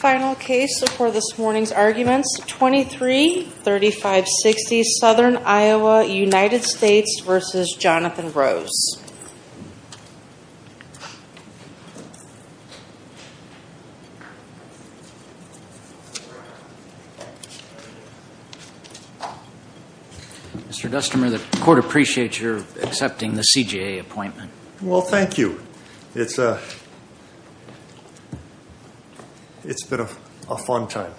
Final case before this morning's arguments, 23-3560 Southern Iowa, United States v. Johnathon Rose. Mr. Destmer, the court appreciates your accepting the CJA appointment. Well, thank you. It's been a fun time.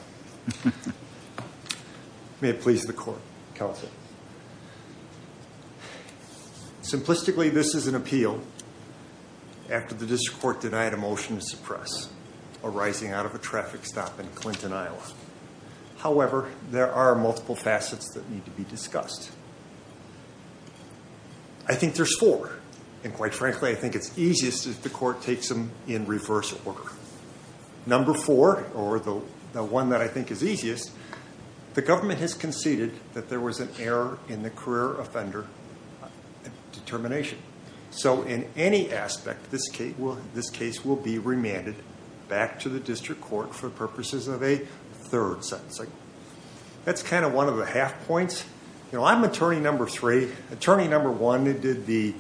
May it please the court, counsel. Simplistically, this is an appeal after the district court denied a motion to suppress arising out of a traffic stop in Clinton, Iowa. However, there are multiple facets that need to be discussed. I think there's four, and quite frankly, I think it's easiest if the court takes them in reverse order. Number four, or the one that I think is easiest, the government has conceded that there was an error in the career offender determination. So in any aspect, this case will be remanded back to the district court for purposes of a third sentencing. That's kind of one of the half points. You know, I'm attorney number three. Attorney number one did the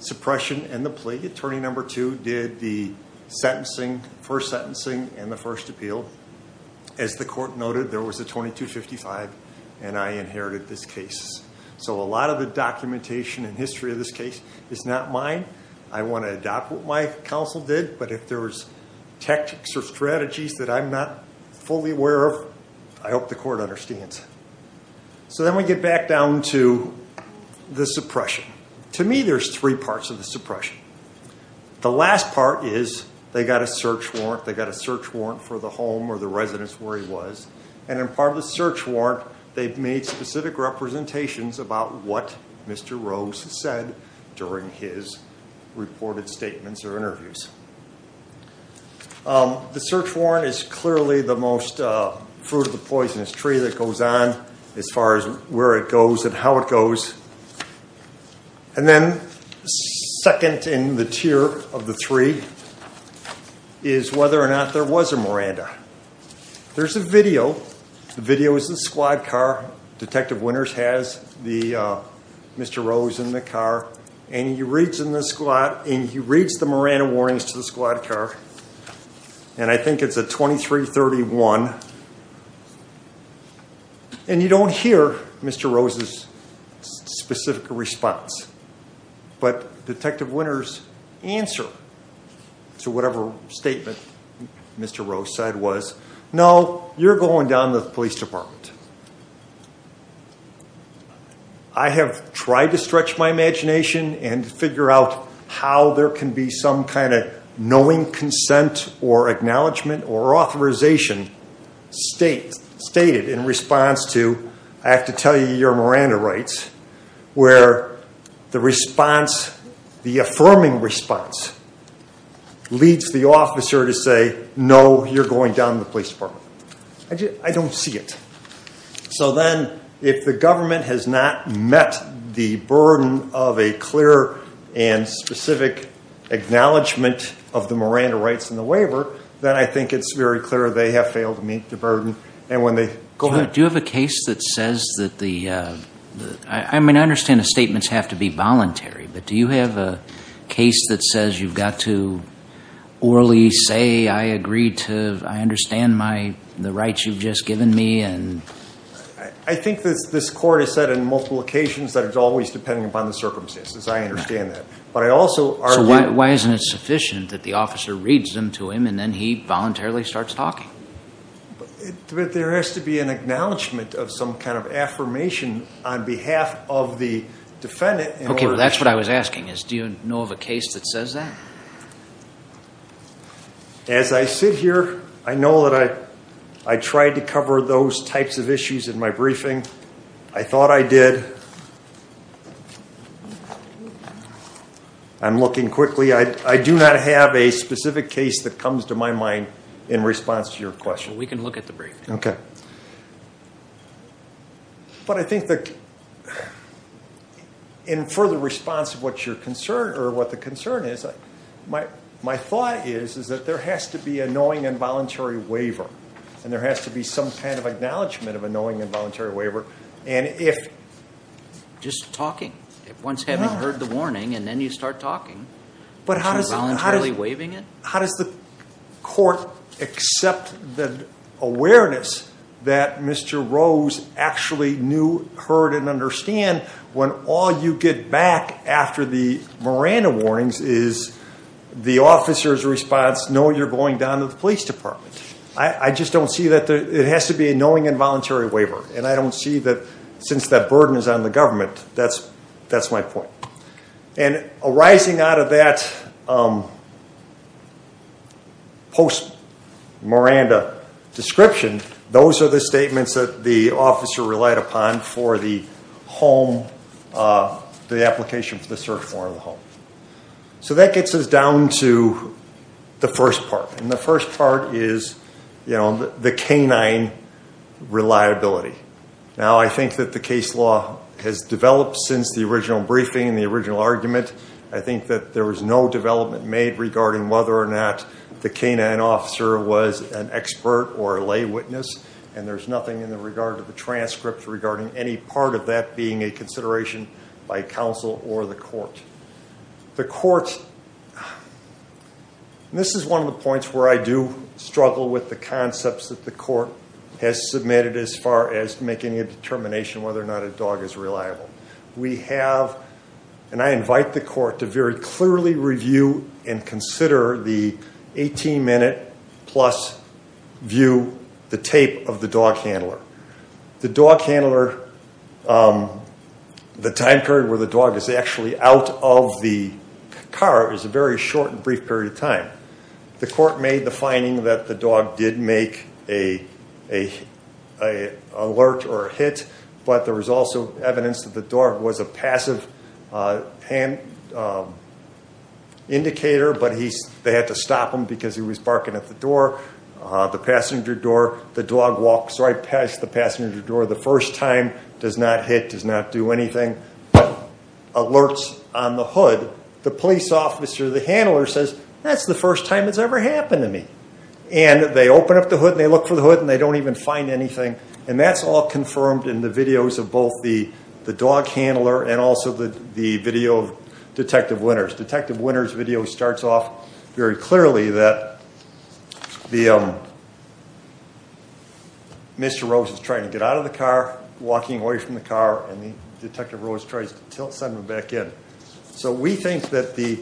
suppression and the plea. Attorney number two did the sentencing, first sentencing and the first appeal. As the court noted, there was a 22-55, and I inherited this case. So a lot of the documentation and history of this case is not mine. I want to adopt what my counsel did, but if there was tactics or strategies that I'm not fully aware of, I hope the court understands. So then we get back down to the suppression. To me, there's three parts of the suppression. The last part is they got a search warrant. They got a search warrant for the home or the residence where he was. And in part of the search warrant, they made specific representations about what Mr. Rose said during his reported statements or interviews. The search warrant is clearly the most fruit of the poisonous tree that goes on as far as where it goes and how it goes. And then second in the tier of the three is whether or not there was a Miranda. There's a video. The video is the squad car. Detective Winters has Mr. Rose in the car, and he reads the Miranda warrants to the squad car, and I think it's a 23-31. And you don't hear Mr. Rose's specific response. But Detective Winters' answer to whatever statement Mr. Rose said was, no, you're going down to the police department. I have tried to stretch my imagination and figure out how there can be some kind of knowing consent or acknowledgement or authorization stated in response to, I have to tell you, your Miranda rights, where the response, the affirming response, leads the officer to say, no, you're going down to the police department. I don't see it. So then if the government has not met the burden of a clear and specific acknowledgement of the Miranda rights in the waiver, then I think it's very clear they have failed to meet the burden. Do you have a case that says that the, I mean, I understand the statements have to be voluntary, but do you have a case that says you've got to orally say, I agree to, I understand the rights you've just given me? I think this court has said on multiple occasions that it's always depending upon the circumstances. I understand that. So why isn't it sufficient that the officer reads them to him, and then he voluntarily starts talking? There has to be an acknowledgement of some kind of affirmation on behalf of the defendant. Okay, that's what I was asking is, do you know of a case that says that? As I sit here, I know that I tried to cover those types of issues in my briefing. I thought I did. I'm looking quickly. I do not have a specific case that comes to my mind in response to your question. We can look at the briefing. But I think that in further response to what you're concerned or what the concern is, my thought is that there has to be a knowing and voluntary waiver, and there has to be some kind of acknowledgement of a knowing and voluntary waiver. Just talking. Once having heard the warning, and then you start talking, is she voluntarily waiving it? How does the court accept the awareness that Mr. Rose actually knew, heard, and understand when all you get back after the Miranda warnings is the officer's response, no, you're going down to the police department? I just don't see that. It has to be a knowing and voluntary waiver, and I don't see that since that burden is on the government. That's my point. And arising out of that post-Miranda description, those are the statements that the officer relied upon for the home, the application for the search warrant at home. So that gets us down to the first part, and the first part is the canine reliability. Now, I think that the case law has developed since the original briefing and the original argument. I think that there was no development made regarding whether or not the canine officer was an expert or a lay witness, and there's nothing in regard to the transcript regarding any part of that being a consideration by counsel or the court. The court, and this is one of the points where I do struggle with the concepts that the court has submitted as far as making a determination whether or not a dog is reliable. We have, and I invite the court to very clearly review and consider the 18-minute-plus view, the tape of the dog handler. The dog handler, the time period where the dog is actually out of the car is a very short and brief period of time. The court made the finding that the dog did make an alert or a hit, but there was also evidence that the dog was a passive indicator, but they had to stop him because he was barking at the door, the passenger door. The dog walks right past the passenger door the first time, does not hit, does not do anything, alerts on the hood. The police officer, the handler, says, that's the first time it's ever happened to me, and they open up the hood, and they look for the hood, and they don't even find anything, and that's all confirmed in the videos of both the dog handler and also the video of Detective Winters. Detective Winters' video starts off very clearly that Mr. Rose is trying to get out of the car, walking away from the car, and Detective Rose tries to send him back in. So we think that the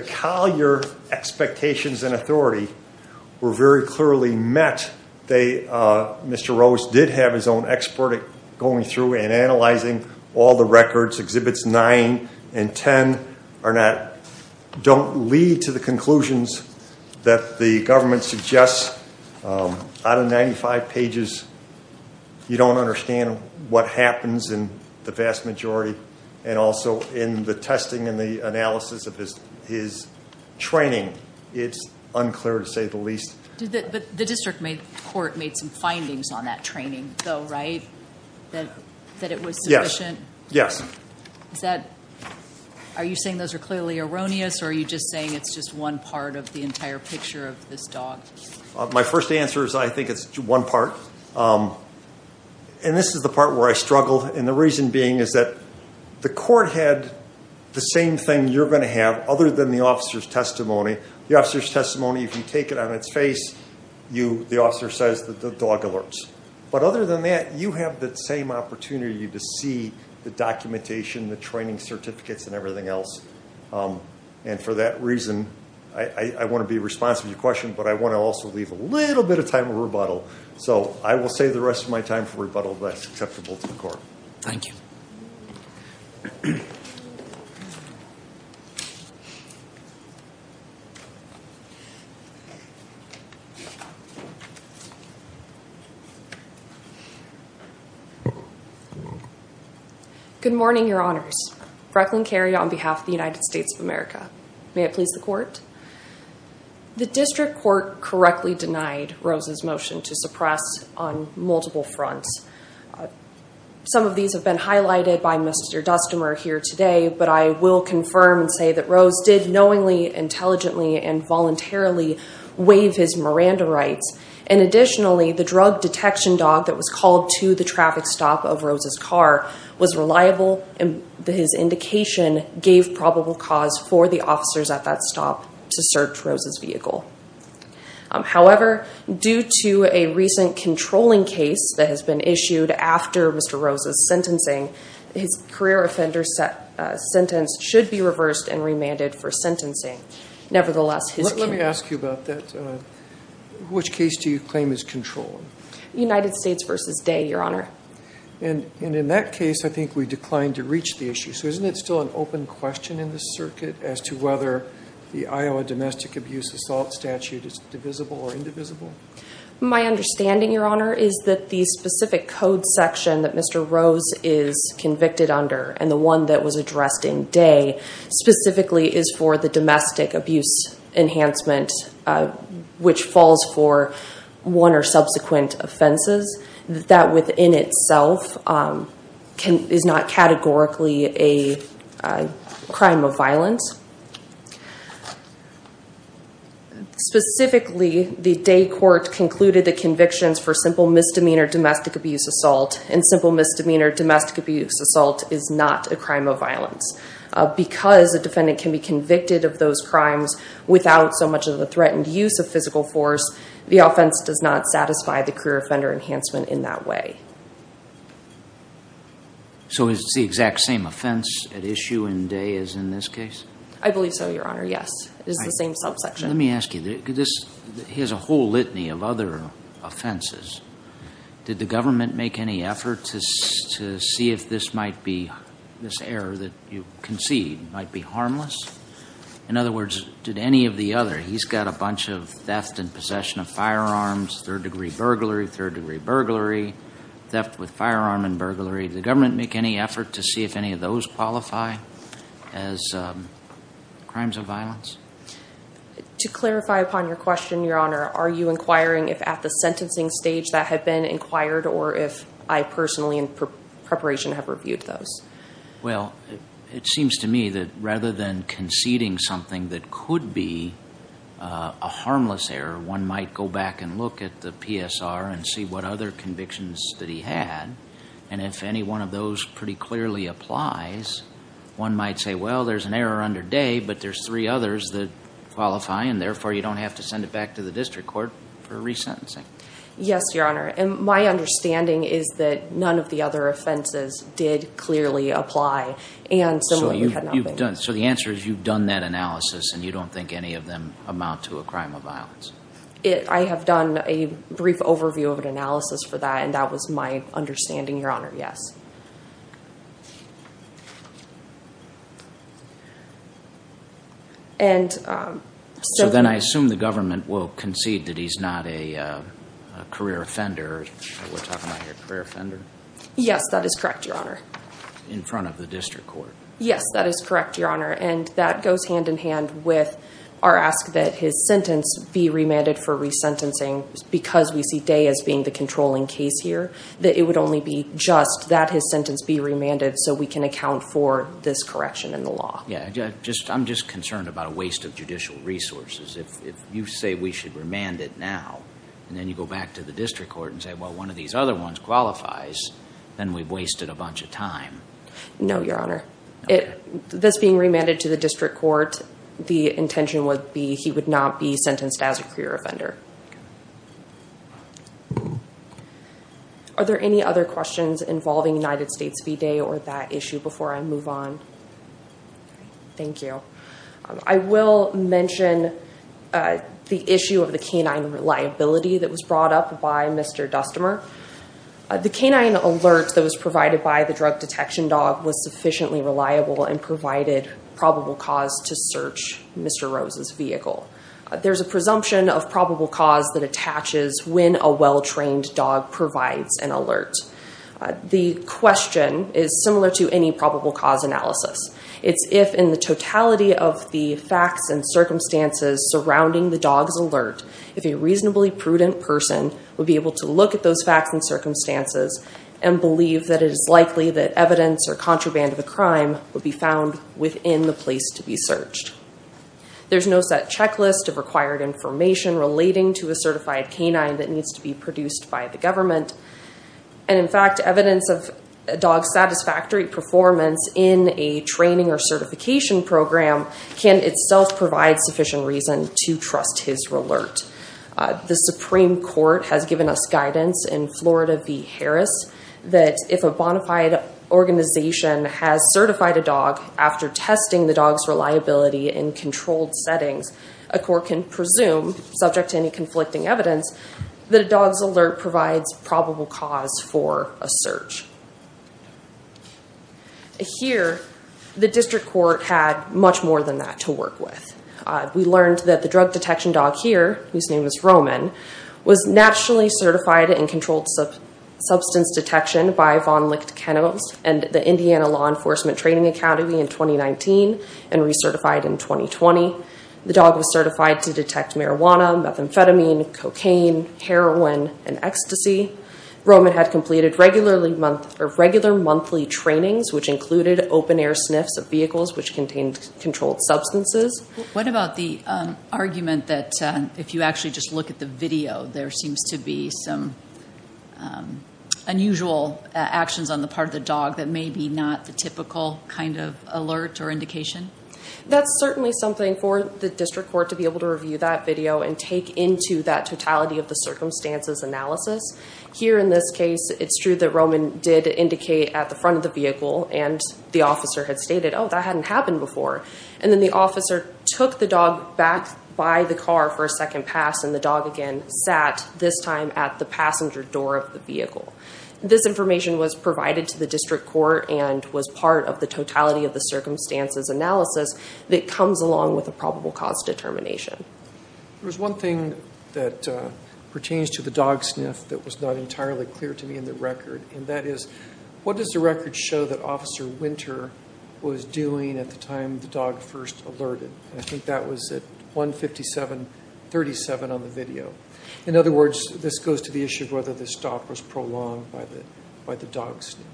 Collier expectations and authority were very clearly met. Mr. Rose did have his own expert going through and analyzing all the records. exhibits 9 and 10 don't lead to the conclusions that the government suggests. Out of 95 pages, you don't understand what happens in the vast majority, and also in the testing and the analysis of his training, it's unclear to say the least. But the district court made some findings on that training, though, right? That it was sufficient? Yes. Are you saying those are clearly erroneous, or are you just saying it's just one part of the entire picture of this dog? My first answer is I think it's one part, and this is the part where I struggle, and the reason being is that the court had the same thing you're going to have, other than the officer's testimony. The officer's testimony, if you take it on its face, the officer says the dog alerts. But other than that, you have that same opportunity to see the documentation, the training certificates, and everything else. And for that reason, I want to be responsive to your question, but I want to also leave a little bit of time for rebuttal. So I will save the rest of my time for rebuttal, but that's acceptable to the court. Thank you. Good morning, Your Honors. Brecklin Carey on behalf of the United States of America. May it please the court. The district court correctly denied Rose's motion to suppress on multiple fronts. Some of these have been highlighted by Mr. Dustemer here today, but I will confirm and say that Rose did knowingly, intelligently, and voluntarily waive his Miranda rights. And additionally, the drug detection dog that was called to the traffic stop of Rose's car was reliable, and his indication gave probable cause for the officers at that stop to search Rose's vehicle. However, due to a recent controlling case that has been issued after Mr. Rose's sentencing, his career offender sentence should be reversed and remanded for sentencing. Nevertheless, his case- Let me ask you about that. Which case do you claim is controlling? United States v. Day, Your Honor. And in that case, I think we declined to reach the issue. So isn't it still an open question in this circuit as to whether the Iowa domestic abuse assault statute is divisible or indivisible? My understanding, Your Honor, is that the specific code section that Mr. Rose is convicted under and the one that was addressed in Day specifically is for the domestic abuse enhancement, which falls for one or subsequent offenses. That within itself is not categorically a crime of violence. Specifically, the Day court concluded that convictions for simple misdemeanor domestic abuse assault and simple misdemeanor domestic abuse assault is not a crime of violence. Because a defendant can be convicted of those crimes without so much of the threatened use of physical force, the offense does not satisfy the career offender enhancement in that way. So is it the exact same offense at issue in Day as in this case? I believe so, Your Honor, yes. It is the same subsection. Let me ask you, he has a whole litany of other offenses. Did the government make any effort to see if this error that you concede might be harmless? In other words, did any of the other, he's got a bunch of theft and possession of firearms, third degree burglary, third degree burglary, theft with firearm and burglary. Did the government make any effort to see if any of those qualify as crimes of violence? To clarify upon your question, Your Honor, are you inquiring if at the sentencing stage that had been inquired or if I personally in preparation have reviewed those? Well, it seems to me that rather than conceding something that could be a harmless error, one might go back and look at the PSR and see what other convictions that he had. And if any one of those pretty clearly applies, one might say, well, there's an error under Day, but there's three others that qualify. And therefore, you don't have to send it back to the district court for resentencing. Yes, Your Honor. And my understanding is that none of the other offenses did clearly apply. And similarly, you've had nothing. So the answer is you've done that analysis and you don't think any of them amount to a crime of violence. I have done a brief overview of an analysis for that. And that was my understanding, Your Honor. Yes. And so then I assume the government will concede that he's not a career offender. We're talking about a career offender. Yes, that is correct, Your Honor. In front of the district court. Yes, that is correct, Your Honor. And that goes hand-in-hand with our ask that his sentence be remanded for resentencing because we see Day as being the controlling case here. That it would only be just that his sentence be remanded so we can account for this correction in the law. Yes, I'm just concerned about a waste of judicial resources. If you say we should remand it now and then you go back to the district court and say, well, one of these other ones qualifies, then we've wasted a bunch of time. No, Your Honor. This being remanded to the district court, the intention would be he would not be sentenced as a career offender. Are there any other questions involving United States v. Day or that issue before I move on? Thank you. I will mention the issue of the canine reliability that was brought up by Mr. Dustemer. The canine alert that was provided by the drug detection dog was sufficiently reliable and provided probable cause to search Mr. Rose's vehicle. There's a presumption of probable cause that attaches when a well-trained dog provides an alert. The question is similar to any probable cause analysis. It's if in the totality of the facts and circumstances surrounding the dog's alert, if a reasonably prudent person would be able to look at those facts and circumstances and believe that it is likely that evidence or contraband of a crime would be found within the place to be searched. There's no set checklist of required information relating to a certified canine that needs to be produced by the government. In fact, evidence of a dog's satisfactory performance in a training or certification program can itself provide sufficient reason to trust his alert. The Supreme Court has given us guidance in Florida v. Harris that if a bona fide organization has certified a dog after testing the dog's reliability in controlled settings, a court can presume, subject to any conflicting evidence, that a dog's alert provides probable cause for a search. Here, the district court had much more than that to work with. We learned that the drug detection dog here, whose name is Roman, was nationally certified in controlled substance detection by Von Licht Kennels and the Indiana Law Enforcement Training Academy in 2019 and recertified in 2020. The dog was certified to detect marijuana, methamphetamine, cocaine, heroin, and ecstasy. Roman had completed regular monthly trainings, which included open-air sniffs of vehicles which contained controlled substances. What about the argument that if you actually just look at the video, there seems to be some unusual actions on the part of the dog that may be not the typical kind of alert or indication? That's certainly something for the district court to be able to review that video and take into that totality of the circumstances analysis. Here, in this case, it's true that Roman did indicate at the front of the vehicle and the officer had stated, oh, that hadn't happened before. And then the officer took the dog back by the car for a second pass and the dog again sat, this time, at the passenger door of the vehicle. This information was provided to the district court and was part of the totality of the circumstances analysis that comes along with a probable cause determination. There was one thing that pertains to the dog sniff that was not entirely clear to me in the record, and that is, what does the record show that Officer Winter was doing at the time the dog first alerted? I think that was at 157.37 on the video. In other words, this goes to the issue of whether the stop was prolonged by the dog sniff.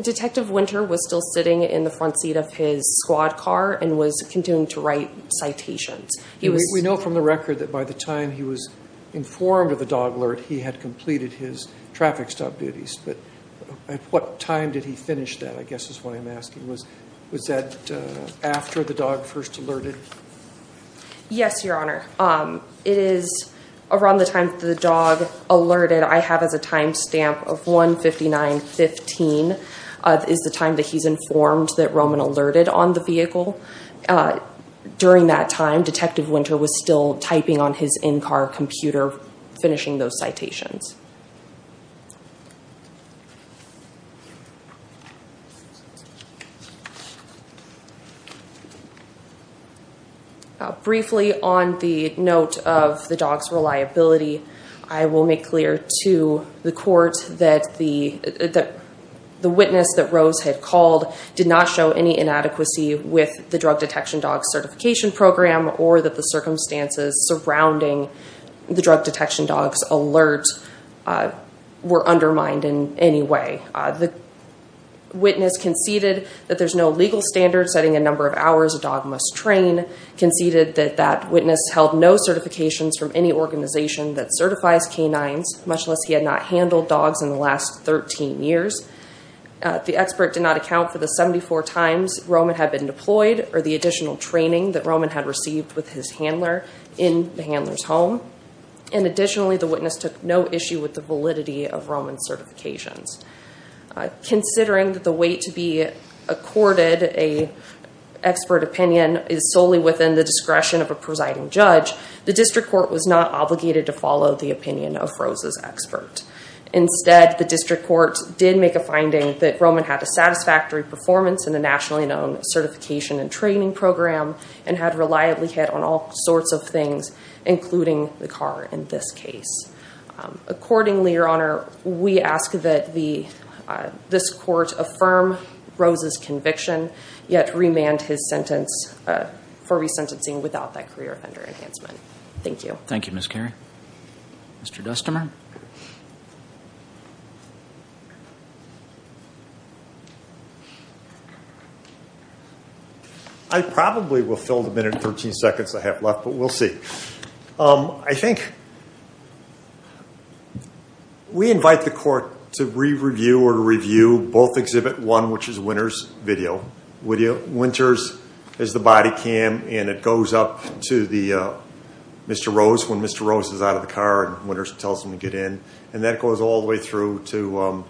Detective Winter was still sitting in the front seat of his squad car and was continuing to write citations. We know from the record that by the time he was informed of the dog alert, he had completed his traffic stop duties. But at what time did he finish that, I guess is what I'm asking. Was that after the dog first alerted? Yes, Your Honor. It is around the time the dog alerted. I have as a time stamp of 159.15 is the time that he's informed that Roman alerted on the vehicle. During that time, Detective Winter was still typing on his in-car computer, finishing those citations. Briefly, on the note of the dog's reliability, I will make clear to the court that the witness that Rose had called did not show any inadequacy with the Drug Detection Dog Certification Program or that the circumstances surrounding the drug detection dog's alert were undermined in any way. The witness conceded that there's no legal standard setting a number of hours a dog must train, conceded that that witness held no certifications from any organization that certifies canines, much less he had not handled dogs in the last 13 years. The expert did not account for the 74 times Roman had been deployed or the additional training that Roman had received with his handler in the handler's home. Additionally, the witness took no issue with the validity of Roman's certifications. Considering that the way to be accorded an expert opinion is solely within the discretion of a presiding judge, the district court was not obligated to follow the opinion of Rose's expert. Instead, the district court did make a finding that Roman had a satisfactory performance in a nationally known certification and training program and had reliably hit on all sorts of things, including the car in this case. Accordingly, Your Honor, we ask that this court affirm Rose's conviction, yet remand his sentence for resentencing without that career offender enhancement. Thank you. Thank you, Ms. Carey. Mr. Dustimer? I probably will fill the minute and 13 seconds I have left, but we'll see. I think we invite the court to re-review or to review both Exhibit 1, which is Winter's video. Winter's is the body cam and it goes up to Mr. Rose when Mr. Rose is out of the car and Winter tells him to get in, and that goes all the way through to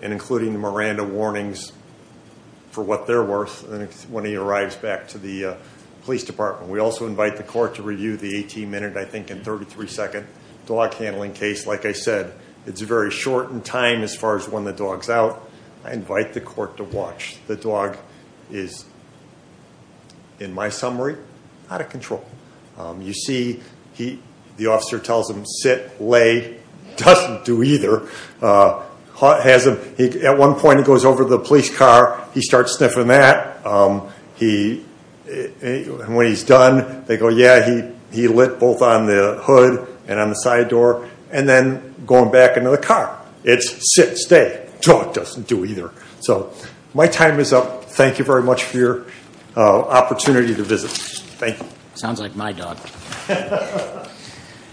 and including the Miranda warnings for what they're worth when he arrives back to the police department. We also invite the court to review the 18-minute, I think, and 33-second dog handling case. Like I said, it's very short in time as far as when the dog's out. I invite the court to watch. The dog is, in my summary, out of control. You see the officer tells him, sit, lay, doesn't do either. At one point, he goes over to the police car. He starts sniffing that. When he's done, they go, yeah, he lit both on the hood and on the side door, and then going back into the car. It's sit, stay. Dog doesn't do either. So my time is up. Thank you very much for your opportunity to visit. Sounds like my dog.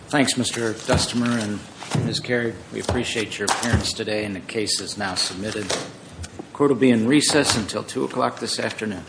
Thanks, Mr. Dustemer and Ms. Carey. We appreciate your appearance today, and the case is now submitted. Court will be in recess until 2 o'clock this afternoon.